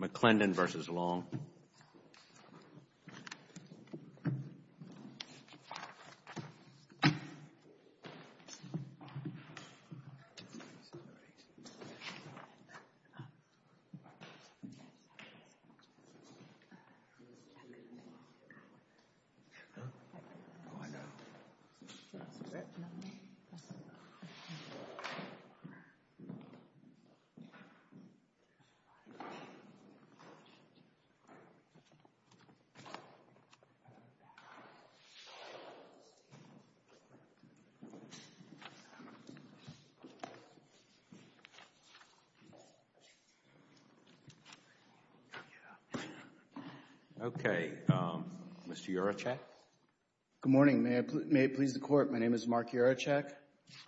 McClendon v. Long Okay. Mr. Yurochek. Good morning. May it please the Court, my name is Mark Yurochek.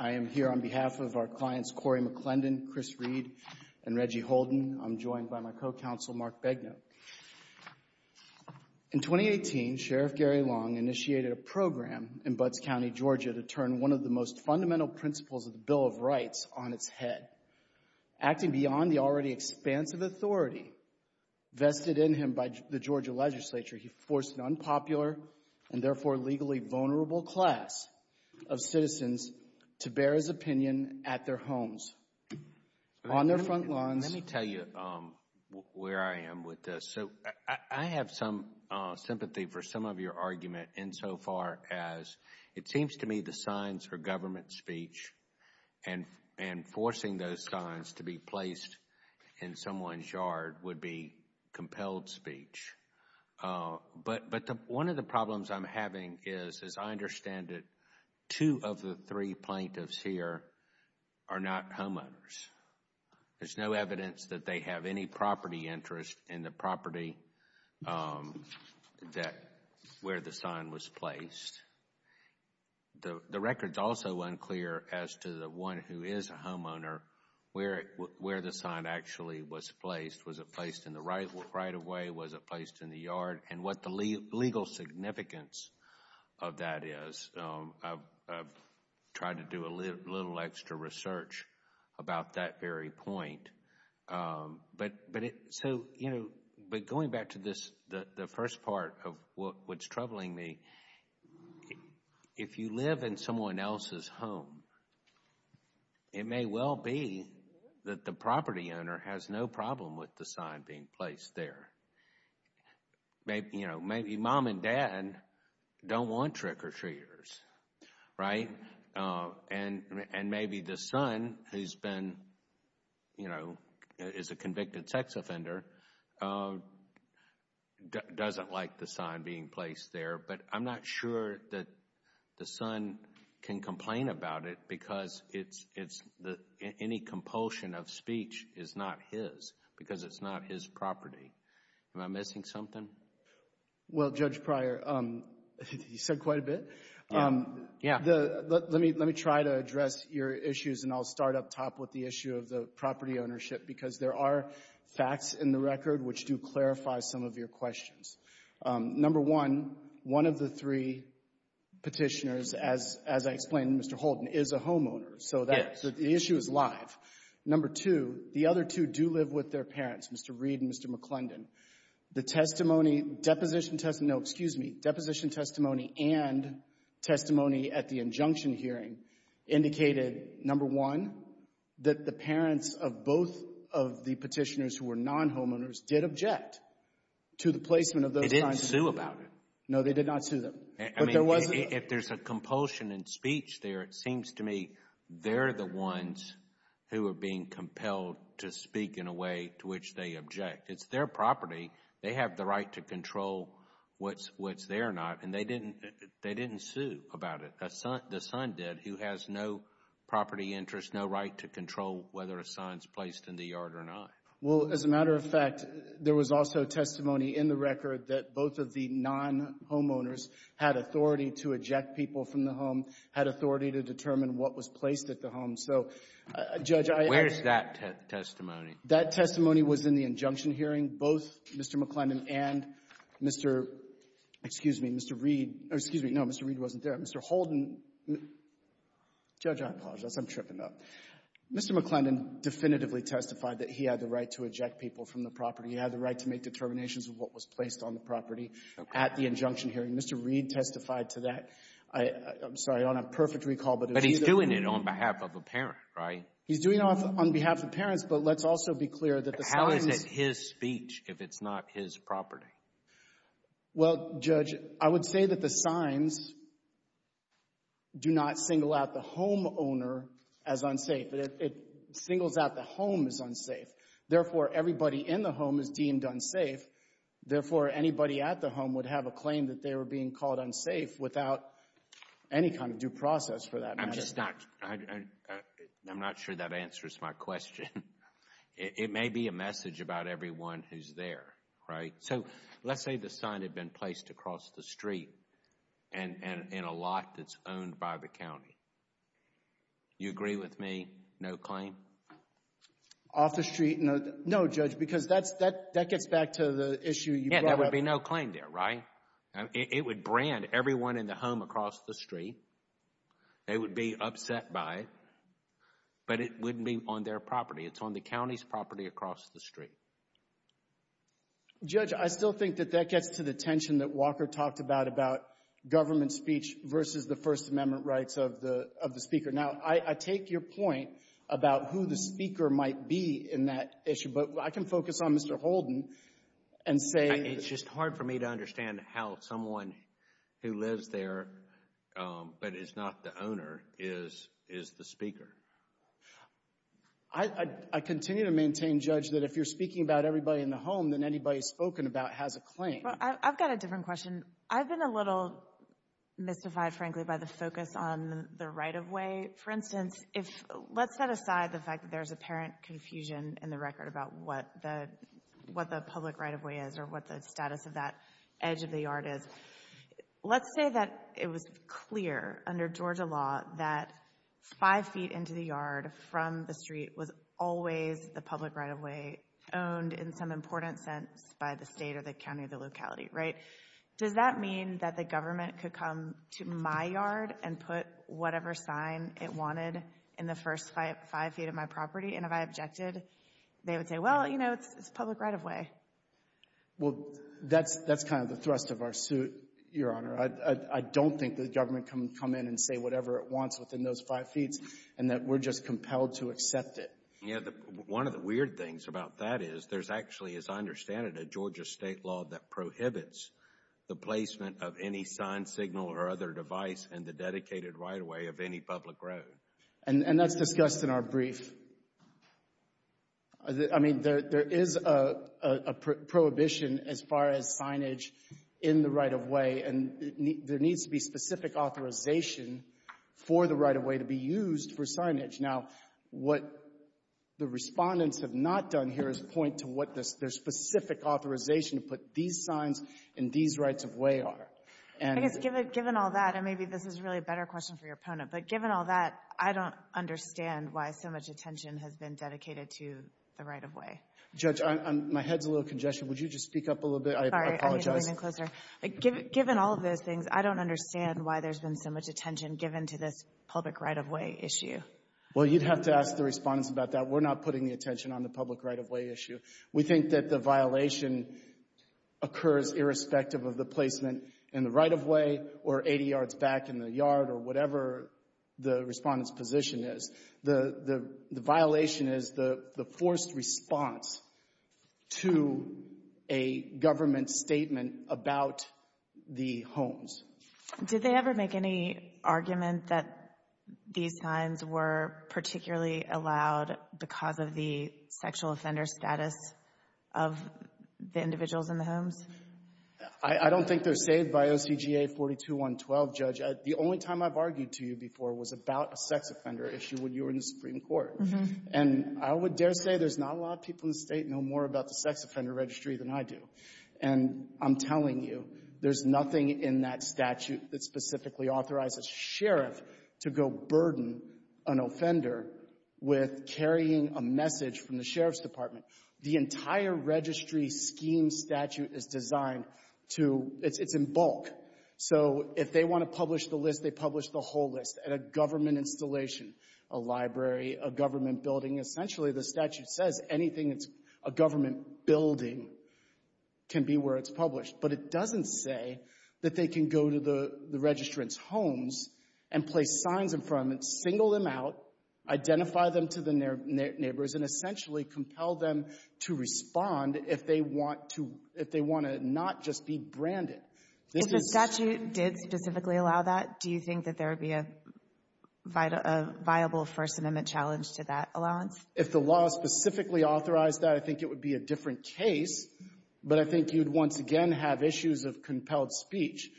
I am here on behalf of our clients Corey McClendon, Chris Reed and Reggie Holden. I'm joined by my co-counsel Mark Begnaud. In 2018, Sheriff Gary Long initiated a program in Butts County, Georgia to turn one of the most fundamental principles of the Bill of Rights on its head. Acting beyond the already expansive authority vested in him by the Georgia Legislature, he forced an unpopular and therefore legally vulnerable class of citizens to bear his opinion at their homes, on their front lawns. Let me tell you where I am with this. So I have some sympathy for some of your argument insofar as it seems to me the signs for government speech and forcing those signs to be placed in someone's yard would be compelled speech. But one of the problems I'm having is, as I understand it, two of the three plaintiffs here are not homeowners. There's no evidence that they have any property interest in the property that, where the sign was placed. The record's also unclear as to the one who is a homeowner, where the sign actually was placed. Was it placed in the right of way? Was it placed in the yard? And what the legal significance of that is. I've tried to do a little extra research about that very point. But going back to the first part of what's troubling me, if you live in someone else's home, it may well be that the property owner has no problem with the sign being placed there. Maybe, you know, maybe mom and dad don't want trick-or-treaters, right? And maybe the son, who's been, you know, is a convicted sex offender, doesn't like the sign being placed there. But I'm not sure that the son can complain about it, because any compulsion of speech is not his, because it's not his property. Am I missing something? Well, Judge Pryor, you said quite a bit. Yeah. Let me try to address your issues, and I'll start up top with the issue of the property ownership, because there are facts in the record which do clarify some of your questions. Number one, one of the three Petitioners, as I explained, Mr. Holden, is a homeowner. So the issue is live. Number two, the other two do live with their parents, Mr. Reed and Mr. McClendon. The testimony, deposition testimony, no, excuse me, deposition testimony and testimony at the injunction hearing indicated, number one, that the parents of both of the Petitioners who were non-homeowners did object to the placement of those signs. They didn't sue about it. No, they did not sue them. I mean, if there's a compulsion in speech there, it seems to me they're the ones who are being compelled to speak in a way to which they object. It's their property. They have the right to control what's there or not, and they didn't sue about it. The son did, who has no property interest, no right to control whether a sign's placed in the yard or not. Well, as a matter of fact, there was also testimony in the record that both of the non-homeowners had authority to eject people from the home, had authority to determine what was placed at the home. So, Judge, I actually — Where is that testimony? That testimony was in the injunction hearing. Both Mr. McClendon and Mr. — excuse me, Mr. Reed — excuse me, no, Mr. Reed wasn't there. Mr. Holden — Judge, I apologize. I'm tripping up. Mr. McClendon definitively testified that he had the right to eject people from the property. He had the right to make determinations of what was placed on the property at the injunction hearing. Mr. Reed testified to that. I'm sorry, I don't have perfect recall, but if he — But he's doing it on behalf of a parent, right? He's doing it on behalf of parents, but let's also be clear that the signs — But how is it his speech if it's not his property? Well, Judge, I would say that the signs do not single out the homeowner as unsafe. It singles out the home as unsafe. Therefore, everybody in the home is deemed unsafe. Therefore, anybody at the home would have a claim that they were being called unsafe without any kind of due process for that matter. I'm just not — I'm not sure that answers my question. It may be a message about everyone who's there, right? So let's say the sign had been placed across the street and in a lot that's owned by the county. You agree with me? No claim? Off the street? No, Judge, because that gets back to the issue you brought up. Yeah, there would be no claim there, right? It would brand everyone in the home across the street. They would be upset by it, but it wouldn't be on their property. It's on the county's property across the street. Judge, I still think that that gets to the tension that Walker talked about, about government speech versus the First Amendment rights of the Speaker. Now, I take your point about who the Speaker might be in that issue, but I can focus on Mr. Holden and say — It's just hard for me to understand how someone who lives there but is not the owner is the Speaker. I continue to maintain, Judge, that if you're speaking about everybody in the home, then anybody spoken about has a claim. Well, I've got a different question. I've been a little mystified, frankly, by the focus on the right-of-way. For instance, if — let's set aside the fact that there's apparent confusion in the record about what the public right-of-way is or what the status of that edge of the yard is. Let's say that it was clear under Georgia law that five feet into the yard from the street was always the public right-of-way owned in some important sense by the state or the county or the locality, right? Does that mean that the government could come to my yard and put whatever sign it wanted in the first five feet of my property? And if I objected, they would say, well, you know, it's a public right-of-way. Well, that's kind of the thrust of our suit, Your Honor. I don't think the government can come in and say whatever it wants within those five feet and that we're just compelled to accept it. You know, one of the weird things about that is there's actually, as I understand it, a Georgia state law that prohibits the placement of any signed signal or other device in the dedicated right-of-way of any public road. And that's discussed in our brief. I mean, there is a prohibition as far as signage in the right-of-way, and there needs to be specific authorization for the right-of-way to be used for signage. Now, what the respondents have not done here is point to what their specific authorization to put these signs and these rights-of-way are. I guess given all that, and maybe this is really a better question for your opponent, but given all that, I don't understand why so much attention has been dedicated to the right-of-way. Judge, my head's a little congested. Would you just speak up a little bit? Given all of those things, I don't understand why there's been so much attention given to this public right-of-way issue. Well, you'd have to ask the respondents about that. We're not putting the attention on the public right-of-way issue. We think that the violation occurs irrespective of the placement in the right-of-way or 80 yards back in the yard or whatever the respondent's position is. The violation is the forced response to a government statement about the homes. Did they ever make any argument that these signs were particularly allowed because of the sexual offender status of the individuals in the homes? I don't think they're saved by OCGA 42-112. Judge, the only time I've argued to you before was about a sex offender issue when you were in the Supreme Court. They know more about the sex offender registry than I do. And I'm telling you, there's nothing in that statute that specifically authorizes a sheriff to go burden an offender with carrying a message from the Sheriff's Department. The entire registry scheme statute is designed to — it's in bulk. So if they want to publish the list, they publish the whole list at a government installation, a library, a government building. Essentially, the statute says anything that's a government building can be where it's published. But it doesn't say that they can go to the registrant's homes and place signs in front of them, single them out, identify them to their neighbors, and essentially compel them to respond if they want to — if they want to not just be branded. If the statute did specifically allow that, do you think that there would be a viable First Amendment challenge to that allowance? If the law specifically authorized that, I think it would be a different case. But I think you'd once again have issues of compelled speech.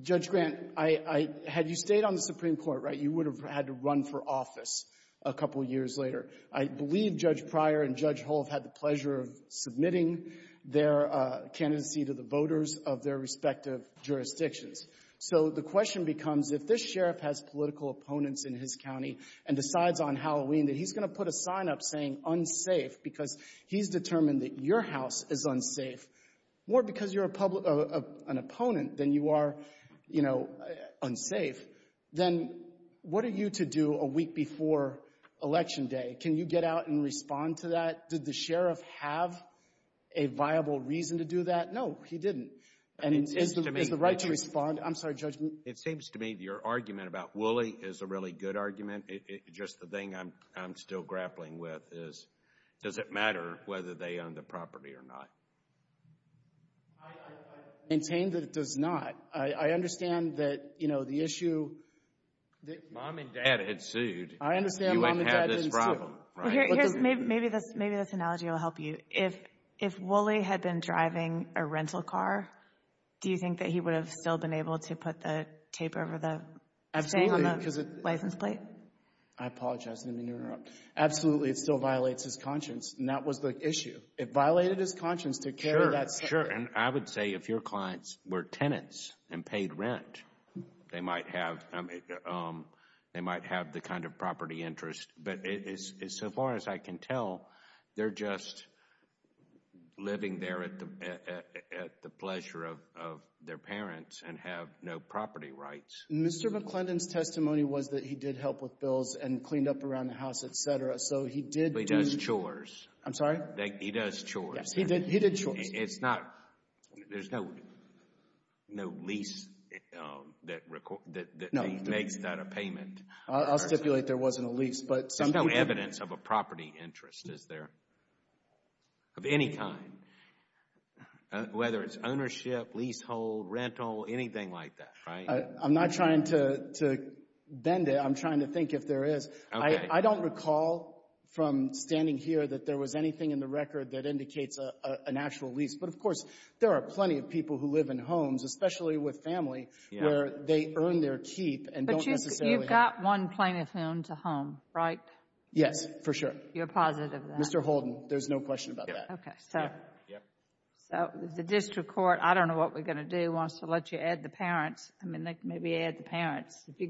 Judge Grant, I — had you stayed on the Supreme Court, right, you would have had to run for office a couple years later. I believe Judge Pryor and Judge Hull have had the pleasure of submitting their candidacy to the voters of their respective jurisdictions. So the question becomes, if this sheriff has political opponents in his county and decides on Halloween that he's going to put a sign up saying unsafe because he's determined that your house is unsafe, more because you're a public — an opponent than you are, you know, unsafe, then what are you to do a viable reason to do that? No, he didn't. And is the right to respond — I'm sorry, Judge — It seems to me your argument about Wooley is a really good argument. Just the thing I'm still grappling with is, does it matter whether they own the property or not? I maintain that it does not. I understand that, you know, the issue — If mom and dad had sued — I understand mom and dad didn't sue. — you wouldn't have this problem, right? Maybe this analogy will help you. If Wooley had been driving a rental car, do you think that he would have still been able to put the tape over the license plate? I apologize. I didn't mean to interrupt. Absolutely, it still violates his conscience, and that was the issue. It violated his conscience to carry that — Sure, sure. And I would say if your clients were tenants and paid rent, they might have — I mean, they might have the kind of property interest. But so far as I can tell, they're just living there at the pleasure of their parents and have no property rights. Mr. McClendon's testimony was that he did help with bills and cleaned up around the house, et cetera. So he did — He does chores. I'm sorry? He does chores. Yes, he did chores. It's not — there's no lease that makes that a payment. I'll stipulate there wasn't a lease. There's no evidence of a property interest, is there, of any kind, whether it's ownership, leasehold, rental, anything like that, right? I'm not trying to bend it. I'm trying to think if there is. I don't recall from standing here that there was anything in the record that indicates an actual lease. But, of course, there are plenty of people who live in homes, especially with family, where they earn their keep and don't necessarily — But you've got one plaintiff home to home, right? Yes, for sure. You're positive of that? Mr. Holden, there's no question about that. Okay. So the district court, I don't know what we're going to do, wants to let you add the parents. I mean, maybe add the parents. If you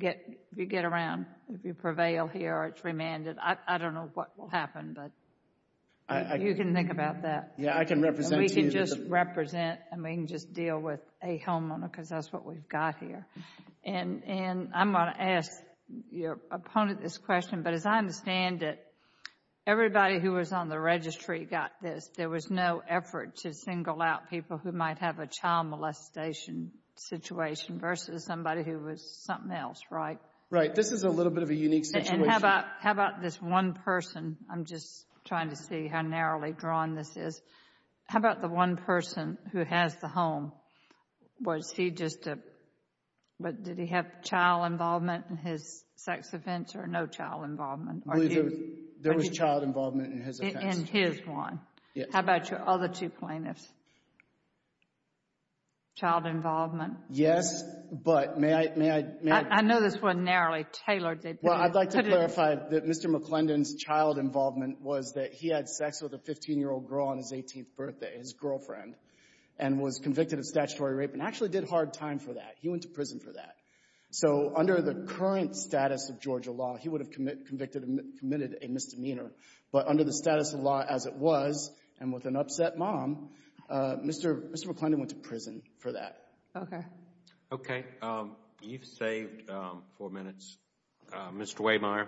get around, if you prevail here or it's remanded, I don't know what will happen, but you can think about that. We can just represent and we can just deal with a homeowner because that's what we've got here. And I'm going to ask your opponent this question, but as I understand it, everybody who was on the registry got this. There was no effort to single out people who might have a child molestation situation versus somebody who was something else, right? Right. This is a little bit of a unique situation. How about this one person? I'm just trying to see how narrowly drawn this is. How about the one person who has the home? Was he just a — what, did he have child involvement in his sex offense or no child involvement? There was child involvement in his offense. In his one? Yes. How about your other two plaintiffs? Child involvement? Yes, but may I — I know this wasn't narrowly tailored. Well, I'd like to clarify that Mr. McClendon's child involvement was that he had sex with a 15-year-old girl on his 18th birthday, his girlfriend, and was convicted of statutory rape and actually did hard time for that. He went to prison for that. So under the current status of Georgia law, he would have committed a misdemeanor. But under the status of law as it was and with an upset mom, Mr. McClendon went to prison for that. Okay. Okay. You've saved four minutes. Mr. Wehmeyer.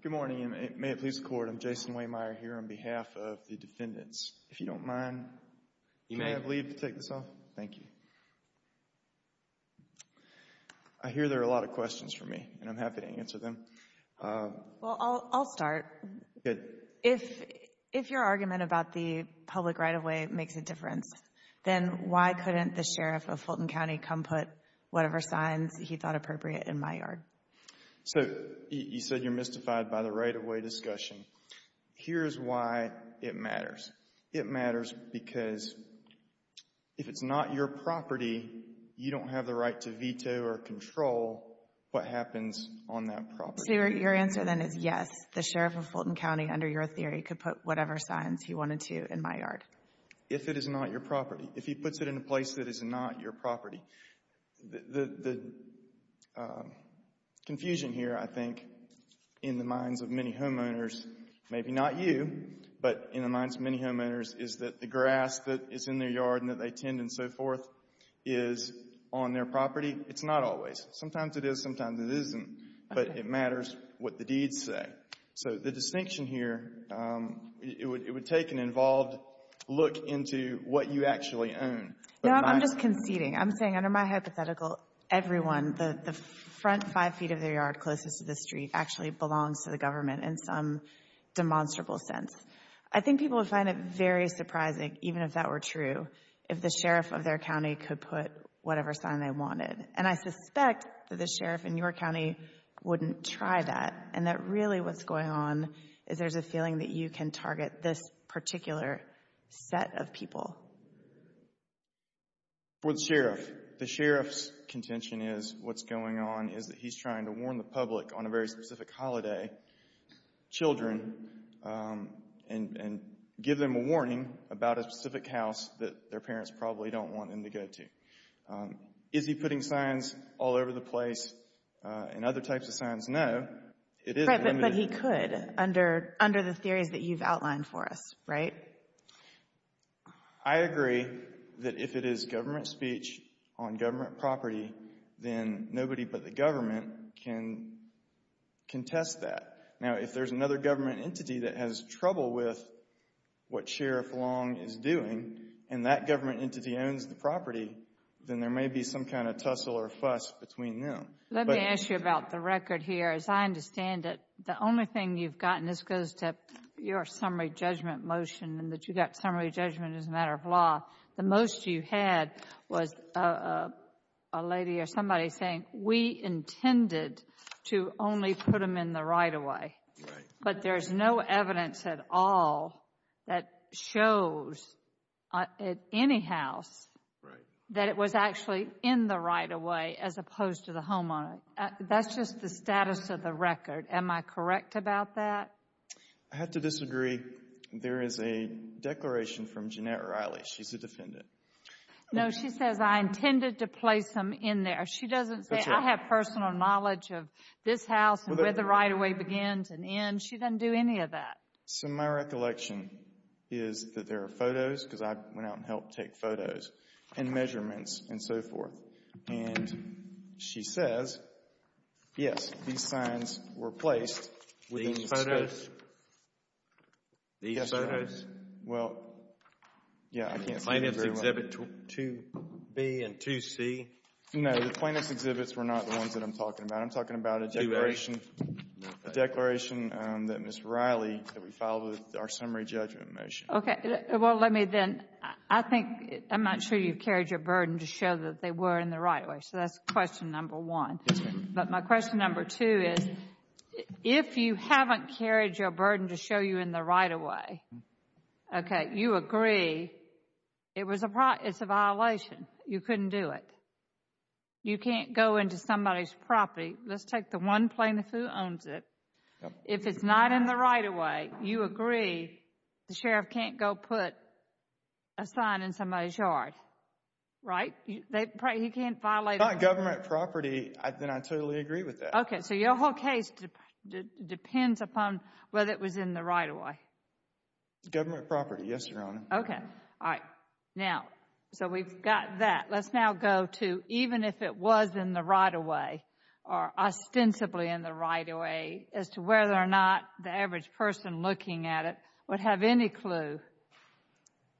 Good morning, and may it please the Court, I'm Jason Wehmeyer here on behalf of the defendants. If you don't mind, can I leave to take this off? Thank you. I hear there are a lot of questions for me, and I'm happy to answer them. Well, I'll start. If your argument about the public right-of-way makes a difference, then why couldn't the sheriff of Fulton County come put whatever signs he thought appropriate in my yard? So you said you're mystified by the right-of-way discussion. Here's why it matters. It matters because if it's not your property, you don't have the right to veto or control what happens on that property. Your answer, then, is yes, the sheriff of Fulton County, under your theory, could put whatever signs he wanted to in my yard. If it is not your property. If he puts it in a place that is not your property. The confusion here, I think, in the minds of many homeowners, maybe not you, but in the minds of many homeowners, is that the grass that is in their yard and that they tend and so forth is on their property. It's not always. Sometimes it is. Sometimes it isn't. But it matters what the deeds say. So the distinction here, it would take an involved look into what you actually own. No, I'm just conceding. I'm saying under my hypothetical, everyone, the front five feet of their yard closest to the street actually belongs to the government in some demonstrable sense. I think people would find it very surprising, even if that were true, if the sheriff of their county could put whatever sign they wanted. And I suspect that the sheriff in your county wouldn't try that. And that really what's going on is there's a feeling that you can target this particular set of people. For the sheriff, the sheriff's contention is what's going on is that he's trying to warn the public on a very specific holiday, children, and give them a warning about a specific house that their parents probably don't want them to go to. Is he putting signs all over the place and other types of signs? No. Right, but he could under the theories that you've outlined for us, right? I agree that if it is government speech on government property, then nobody but the government can contest that. Now, if there's another government entity that has trouble with what Sheriff Long is doing, and that government entity owns the property, then there may be some kind of tussle or fuss between them. Let me ask you about the record here. As I understand it, the only thing you've gotten, this goes to your summary judgment motion, and that you got summary judgment as a matter of law, the most you had was a lady or somebody saying, we intended to only put them in the that shows at any house that it was actually in the right-of-way as opposed to the homeowner. That's just the status of the record. Am I correct about that? I have to disagree. There is a declaration from Jeanette Riley. She's a defendant. No, she says, I intended to place them in there. She doesn't say, I have personal knowledge of this house and where the right-of-way begins and ends. She doesn't do any of that. So my recollection is that there are photos, because I went out and helped take photos, and measurements, and so forth. And she says, yes, these signs were placed within the space. These photos? These photos? Well, yeah, I can't say very well. Plaintiff's exhibit 2B and 2C? No, the plaintiff's exhibits were not the ones that I'm talking about. I'm talking about a declaration that Ms. Riley that we filed with our summary judgment motion. Okay. Well, let me then, I think, I'm not sure you've carried your burden to show that they were in the right-of-way. So that's question number one. But my question number two is, if you haven't carried your burden to show you in the right-of-way, okay, you agree it's a violation. You couldn't do it. You can't go into somebody's property. Let's take the one plaintiff who owns it. If it's not in the right-of-way, you agree the sheriff can't go put a sign in somebody's yard, right? He can't violate it. If it's not government property, then I totally agree with that. Okay. So your whole case depends upon whether it was in the right-of-way. Government property, yes, Your Honor. Okay. All right. Now, so we've got that. Let's now go to even if it was in the right-of-way, or ostensibly in the right-of-way, as to whether or not the average person looking at it would have any clue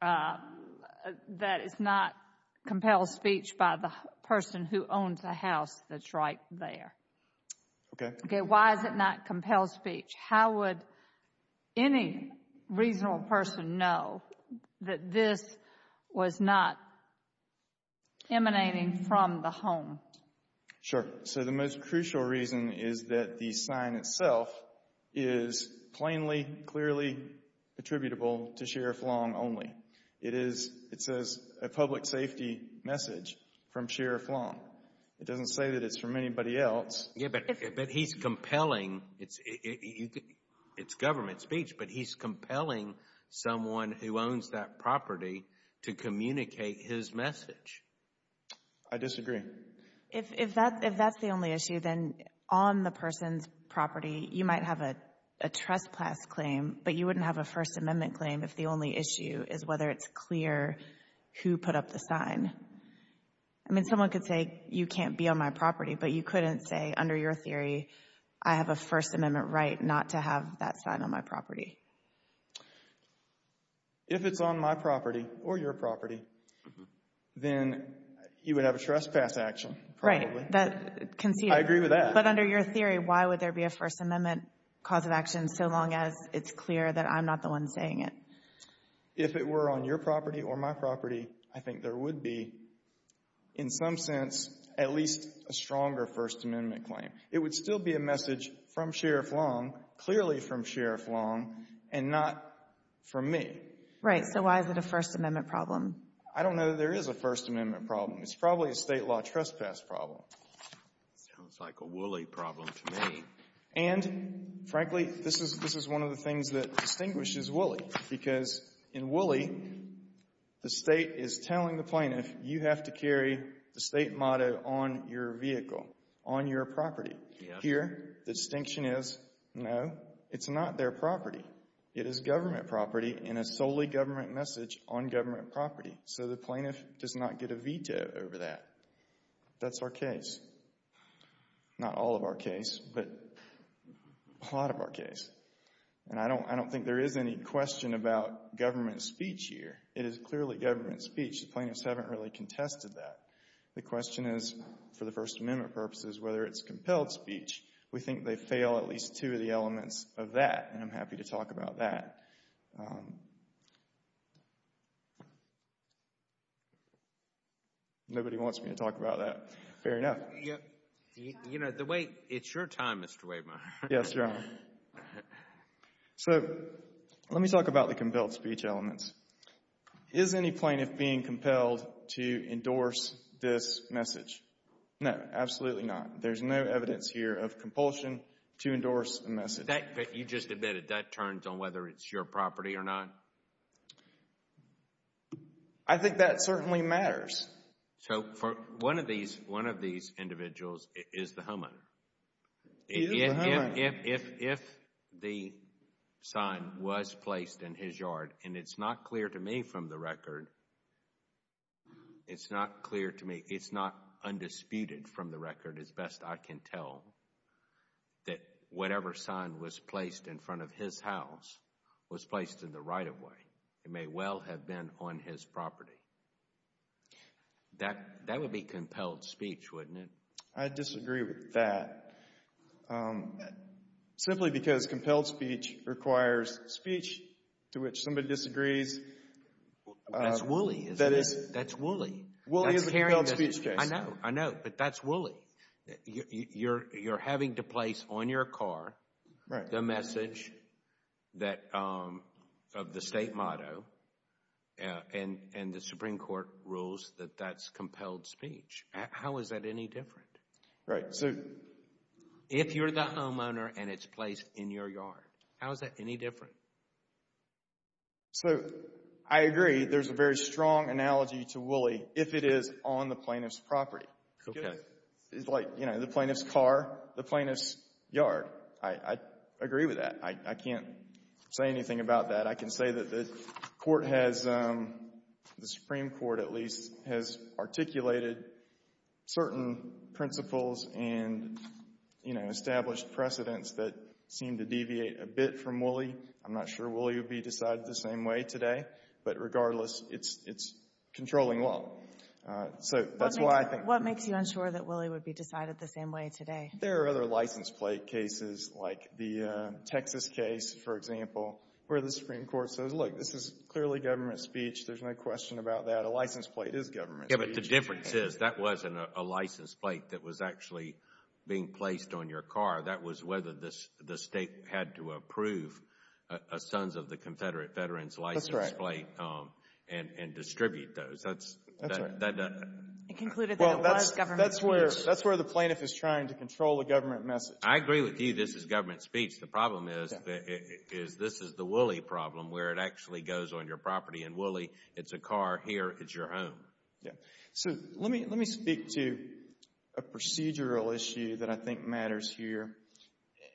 that it's not compelled speech by the person who owns the house that's right there. Okay. Okay. Why is it not compelled speech? How would any reasonable person know that this was not emanating from the home? Sure. So the most crucial reason is that the sign itself is plainly, clearly attributable to Sheriff Long only. It is, it says a public safety message from Sheriff Long. It doesn't say that it's from anybody else. Yeah, but he's compelling. It's government speech, but he's compelling someone who owns that property to communicate his message. I disagree. If that's the only issue, then on the person's property, you might have a trespass claim, but you wouldn't have a First Amendment claim if the only issue is whether it's clear who put up the sign. I mean, someone could say, you can't be on my property, but you couldn't say under your theory, I have a First Amendment right not to have that sign on my property. If it's on my property or your property, then you would have a trespass action, probably. Right. That, conceded. I agree with that. But under your theory, why would there be a First Amendment cause of action so long as it's clear that I'm not the one saying it? If it were on your property or my property, I think there would be, in some sense, at least a stronger First Amendment claim. It would still be a message from Sheriff Long, clearly from Sheriff Long, and not from me. Right. So why is it a First Amendment problem? I don't know that there is a First Amendment problem. It's probably a State law trespass problem. Sounds like a Woolley problem to me. And, frankly, this is one of the things that distinguishes Woolley, because in Woolley, the State is telling the plaintiff, you have to carry the State motto on your vehicle, on your property. Yes. Here, the distinction is, no, it's not their property. It is government property and a solely government message on government property. So the plaintiff does not get a veto over that. That's our case. Not all of our case, but a lot of our case. And I don't think there is any question about government speech here. It is clearly government speech. The plaintiffs haven't really contested that. The question is, for the First Amendment purposes, whether it's compelled speech. We think they fail at least two of the elements of that, and I'm happy to talk about that. Nobody wants me to talk about that. Fair enough. You know, the way, it's your time, Mr. Wehmeyer. Yes, Your Honor. So let me talk about the compelled speech elements. Is any plaintiff being compelled to endorse this message? No, absolutely not. There's no evidence here of compulsion to endorse a message. That, you just admitted, that turns on whether it's your property or not? I think that certainly matters. So for one of these, one of these individuals is the homeowner. He is the homeowner. If the sign was placed in his yard, and it's not clear to me from the record, it's not clear to me, it's not undisputed from the record as best I can tell, that whatever sign was placed in front of his house was placed in the right-of-way. It may well have been on his property. That would be compelled speech, wouldn't it? I disagree with that. Simply because compelled speech requires speech to which somebody disagrees. That's woolly, isn't it? That is. That's woolly. Woolly is a compelled speech case. I know, I know, but that's woolly. You're having to place on your car the message that, of the state motto, and the Supreme Court rules that that's compelled speech. How is that any different? Right. So, if you're the homeowner and it's placed in your yard, how is that any different? So, I agree. There's a very strong analogy to woolly if it is on the plaintiff's property. Okay. It's like, you know, the plaintiff's car, the plaintiff's yard. I agree with that. I can't say anything about that. I can say that the Supreme Court, at least, has articulated certain principles and, you know, established precedents that seem to deviate a bit from woolly. I'm not sure woolly would be decided the same way today. But, regardless, it's controlling law. So, that's why I think— What makes you unsure that woolly would be decided the same way today? There are other license plate cases, like the Texas case, for example, where the Supreme Court says, look, this is clearly government speech. There's no question about that. A license plate is government speech. But the difference is, that wasn't a license plate that was actually being placed on your car. That was whether the state had to approve a Sons of the Confederate Veterans license plate and distribute those. That's right. It concluded that it was government speech. That's where the plaintiff is trying to control the government message. I agree with you. This is government speech. The problem is, this is the woolly problem, where it actually goes on your property. In woolly, it's a car. Here, it's your home. So, let me speak to a procedural issue that I think matters here.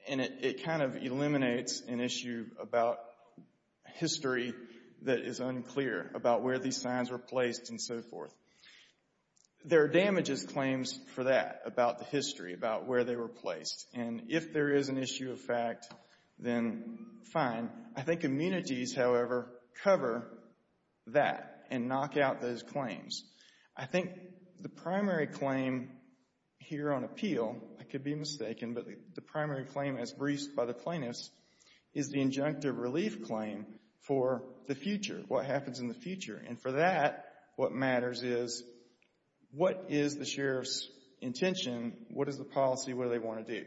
And it kind of eliminates an issue about history that is unclear, about where these signs were placed and so forth. There are damages claims for that, about the history, about where they were placed. And if there is an issue of fact, then fine. I think immunities, however, cover that and knock out those claims. I think the primary claim here on appeal, I could be mistaken, but the primary claim as briefed by the plaintiffs is the injunctive relief claim for the future, what happens in the future. And for that, what matters is, what is the sheriff's intention? What is the policy? What do they want to do?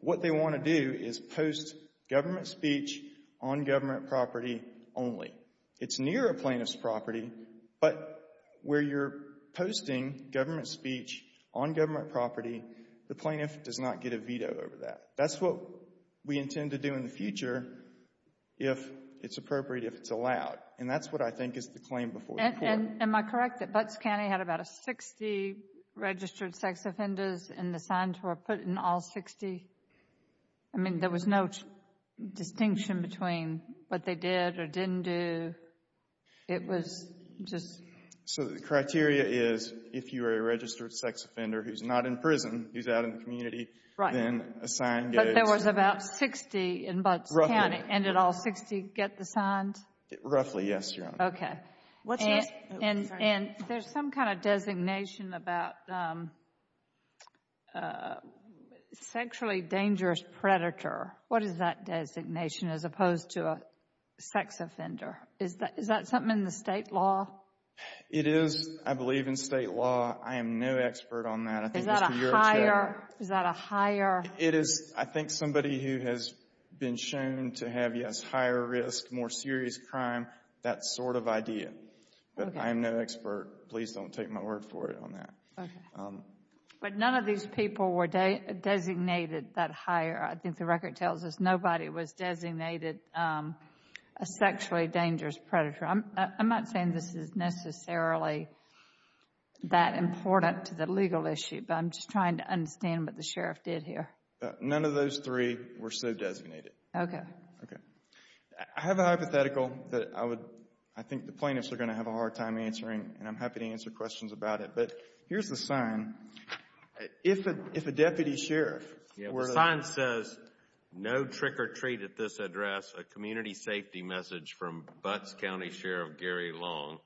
What they want to do is post government speech on government property only. It's near a plaintiff's property, but where you're posting government speech on government property, the plaintiff does not get a veto over that. That's what we intend to do in the future if it's appropriate, if it's allowed. And that's what I think is the claim before the court. And am I correct that Butts County had about 60 registered sex offenders and the signs were put in all 60? I mean, there was no distinction between what they did or didn't do. It was just So the criteria is, if you are a registered sex offender who's not in prison, who's out in the community, then a sign gets But there was about 60 in Butts County, and did all 60 get the signs? Roughly, yes, Your Honor. Okay. And there's some kind of designation about sexually dangerous predator. What is that designation as opposed to a sex offender? Is that something in the state law? It is, I believe, in state law. I am no expert on that. Is that a higher It is. I think somebody who has been shown to have, yes, higher risk, more serious crime, that sort of idea. But I am no expert. Please don't take my word for it on that. But none of these people were designated that higher. I think the record tells us nobody was designated a sexually dangerous predator. I'm not saying this is necessarily that important to the legal issue, but I'm just trying to understand what the sheriff did here. None of those three were so designated. Okay. Okay. I have a hypothetical that I would, I think the plaintiffs are going to have a hard time answering, and I'm happy to answer questions about it. But here's the sign. If a deputy sheriff The sign says, no trick or treat at this address, a community safety message from Butts County Sheriff Gary Long.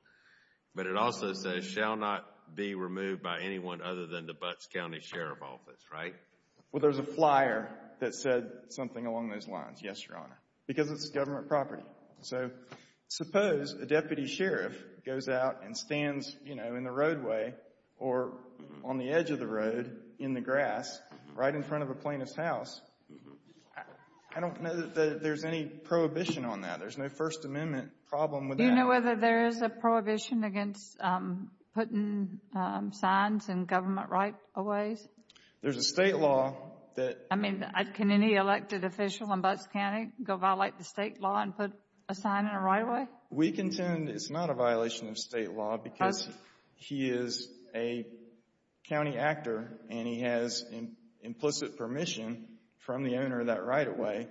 But it also says, shall not be removed by anyone other than the Butts County Sheriff Office, right? Well, there's a flyer that said something along those lines. Yes, Your Honor. Because it's government property. So suppose a deputy sheriff goes out and stands, you know, in the roadway or on the edge of the road, in the grass, right in front of a plaintiff's house. I don't know that there's any prohibition on that. There's no First Amendment problem with that. Do you know whether there is a prohibition against putting signs and government rights away? There's a state law that I mean, can any elected official in Butts County go violate the state law and put a sign in a right-of-way? We contend it's not a violation of state law because he is a county actor and he has implicit permission from the owner of that right-of-way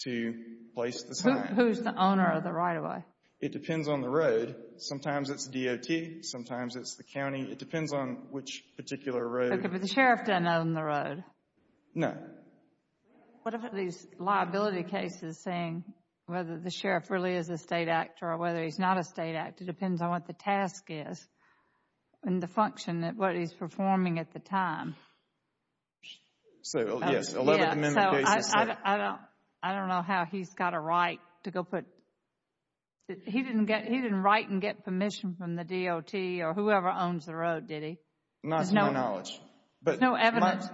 to place the sign. Who's the owner of the right-of-way? It depends on the road. Sometimes it's DOT. Sometimes it's the county. It depends on which particular road. But the sheriff doesn't own the road. No. What about these liability cases saying whether the sheriff really is a state actor or whether he's not a state actor? It depends on what the task is and the function, what he's performing at the time. So, yes, 11th Amendment cases say. I don't know how he's got a right to go put, he didn't write and get permission from the DOT or whoever owns the road, did he? Not to my knowledge. There's no evidence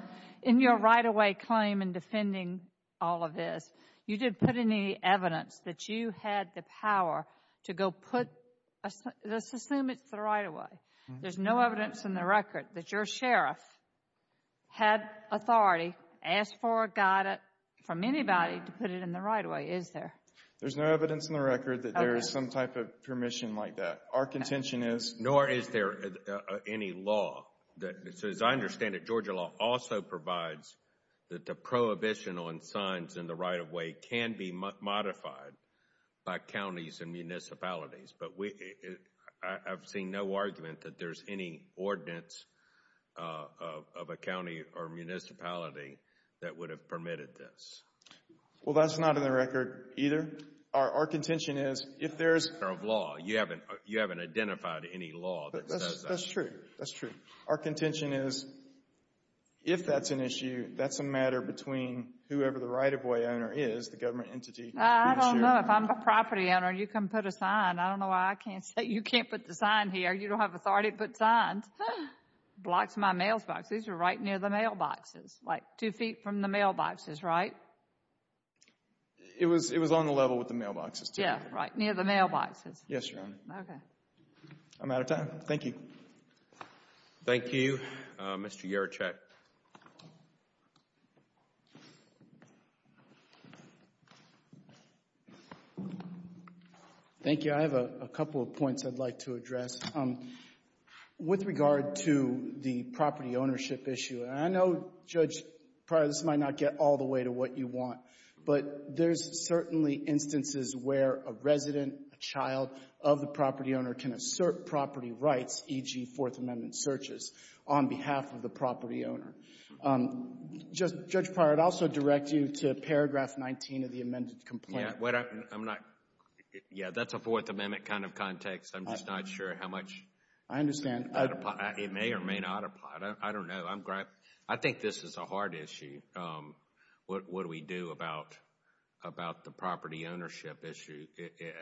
in your right-of-way claim in defending all of this. You didn't put any evidence that you had the power to go put, let's assume it's the right-of-way. There's no evidence in the record that your sheriff had authority, asked for, got it from anybody to put it in the right-of-way, is there? There's no evidence in the record that there is some type of permission like that. Nor is there any law that, as I understand it, Georgia law also provides that the prohibition on signs in the right-of-way can be modified by counties and municipalities, but I've seen no argument that there's any ordinance of a county or municipality that would have permitted this. Well, that's not in the record either. Our contention is, if there's law, you haven't identified any law that says that. That's true, that's true. Our contention is, if that's an issue, that's a matter between whoever the right-of-way owner is, the government entity. I don't know. If I'm the property owner, you come put a sign. I don't know why I can't say, you can't put the sign here. You don't have authority to put signs. It blocks my mailbox. These are right near the mailboxes, like two feet from the mailboxes, right? It was on the level with the mailboxes, too. Yeah, right near the mailboxes. Yes, Your Honor. Okay. I'm out of time. Thank you. Thank you, Mr. Garachek. Thank you. I have a couple of points I'd like to address. With regard to the property ownership issue, and I know, Judge Pryor, this might not get all the way to what you want, but there's certainly instances where a resident, a child of the property owner can assert property rights, e.g., Fourth Amendment searches, on behalf of the property owner. Judge Pryor, I'd also direct you to paragraph 19 of the amended complaint. Yeah, that's a Fourth Amendment kind of context. I'm just not sure how much it may or may not apply. I don't know. I think this is a hard issue, what we do about the property ownership issue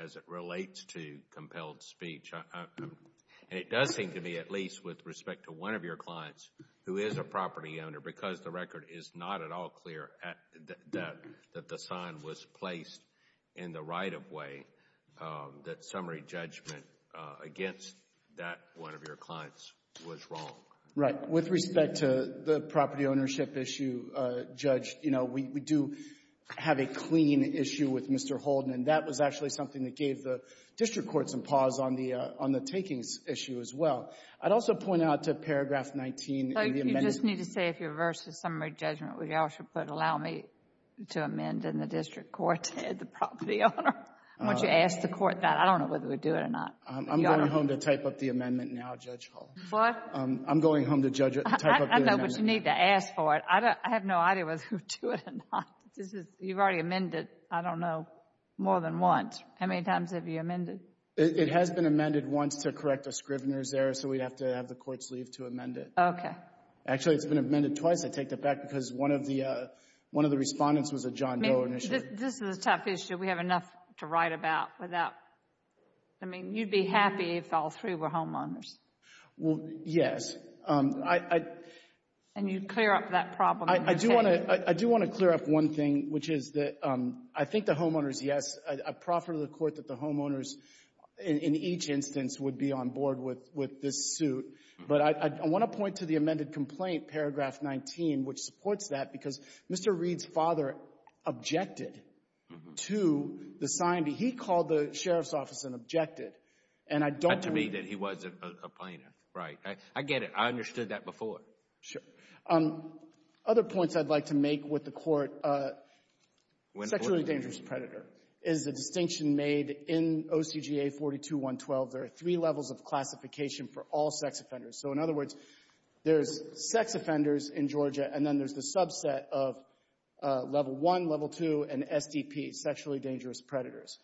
as it relates to compelled speech. It does seem to me, at least with respect to one of your clients who is a property owner, because the record is not at all clear that the sign was placed in the right-of-way, that summary judgment against that one of your clients was wrong. Right. With respect to the property ownership issue, Judge, you know, we do have a clean issue with Mr. Holden, and that was actually something that gave the District Court some pause on the takings issue as well. I'd also point out to paragraph 19 in the amendment — So you just need to say if you reverse the summary judgment, would you also put, allow me to amend in the District Court to add the property owner? I want you to ask the Court that. I don't know whether we do it or not. I'm going home to type up the amendment now, Judge Hall. What? I'm going home to type up the amendment. I know, but you need to ask for it. I have no idea whether we do it or not. This is — you've already amended, I don't know, more than once. How many times have you amended? It has been amended once to correct a scrivener's error, so we'd have to have the Court's leave to amend it. Okay. Actually, it's been amended twice. I take that back because one of the respondents was a John Doe initiator. This is a tough issue. We have enough to write about without — I mean, you'd be happy if all three were homeowners. Well, yes. And you'd clear up that problem. I do want to — I do want to clear up one thing, which is that I think the homeowners, yes, I proffer to the Court that the homeowners in each instance would be on board with this suit, but I want to point to the amended complaint, paragraph 19, which supports that, because Mr. Reed's father objected to the signing. He called the sheriff's office and objected, and I don't — I'm not saying that he wasn't a plaintiff, right? I get it. I understood that before. Sure. Other points I'd like to make with the Court, sexually dangerous predator is a distinction made in OCGA 42-112. There are three levels of classification for all sex offenders. So, in other words, there's sex offenders in Georgia, and then there's the subset of Level 1, Level 2, and SDP, sexually dangerous predators.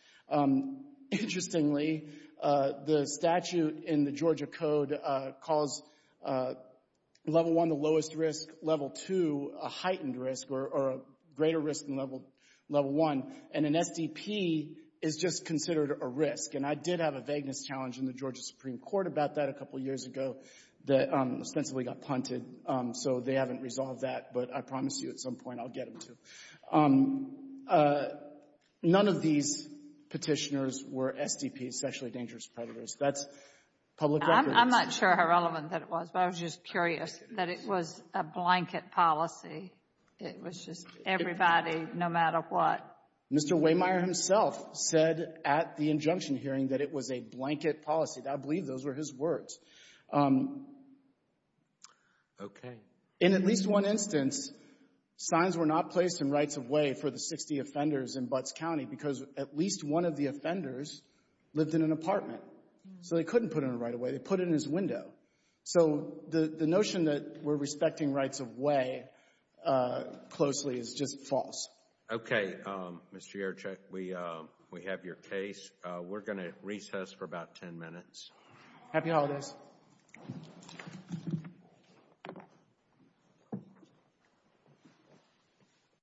Interestingly, the statute in the Georgia Code calls Level 1 the lowest risk, Level 2 a heightened risk, or a greater risk than Level 1, and an SDP is just considered a risk, and I did have a vagueness challenge in the Georgia Supreme Court about that a couple years ago that ostensibly got punted, so they haven't resolved that, but I promise you at some point I'll get them to. None of these petitioners were SDPs, sexually dangerous predators. That's public record. I'm not sure how relevant that was, but I was just curious that it was a blanket policy. It was just everybody, no matter what. Mr. Waymire himself said at the injunction hearing that it was a blanket policy. I believe those were his words. Okay. In at least one instance, signs were not placed in rights-of-way for the 60 offenders in Butts County because at least one of the offenders lived in an apartment, so they couldn't put in a right-of-way. They put it in his window. So the notion that we're respecting rights-of-way closely is just false. Okay, Mr. Yerchuk, we have your case. We're going to recess for about 10 minutes. Happy holidays. Thank you.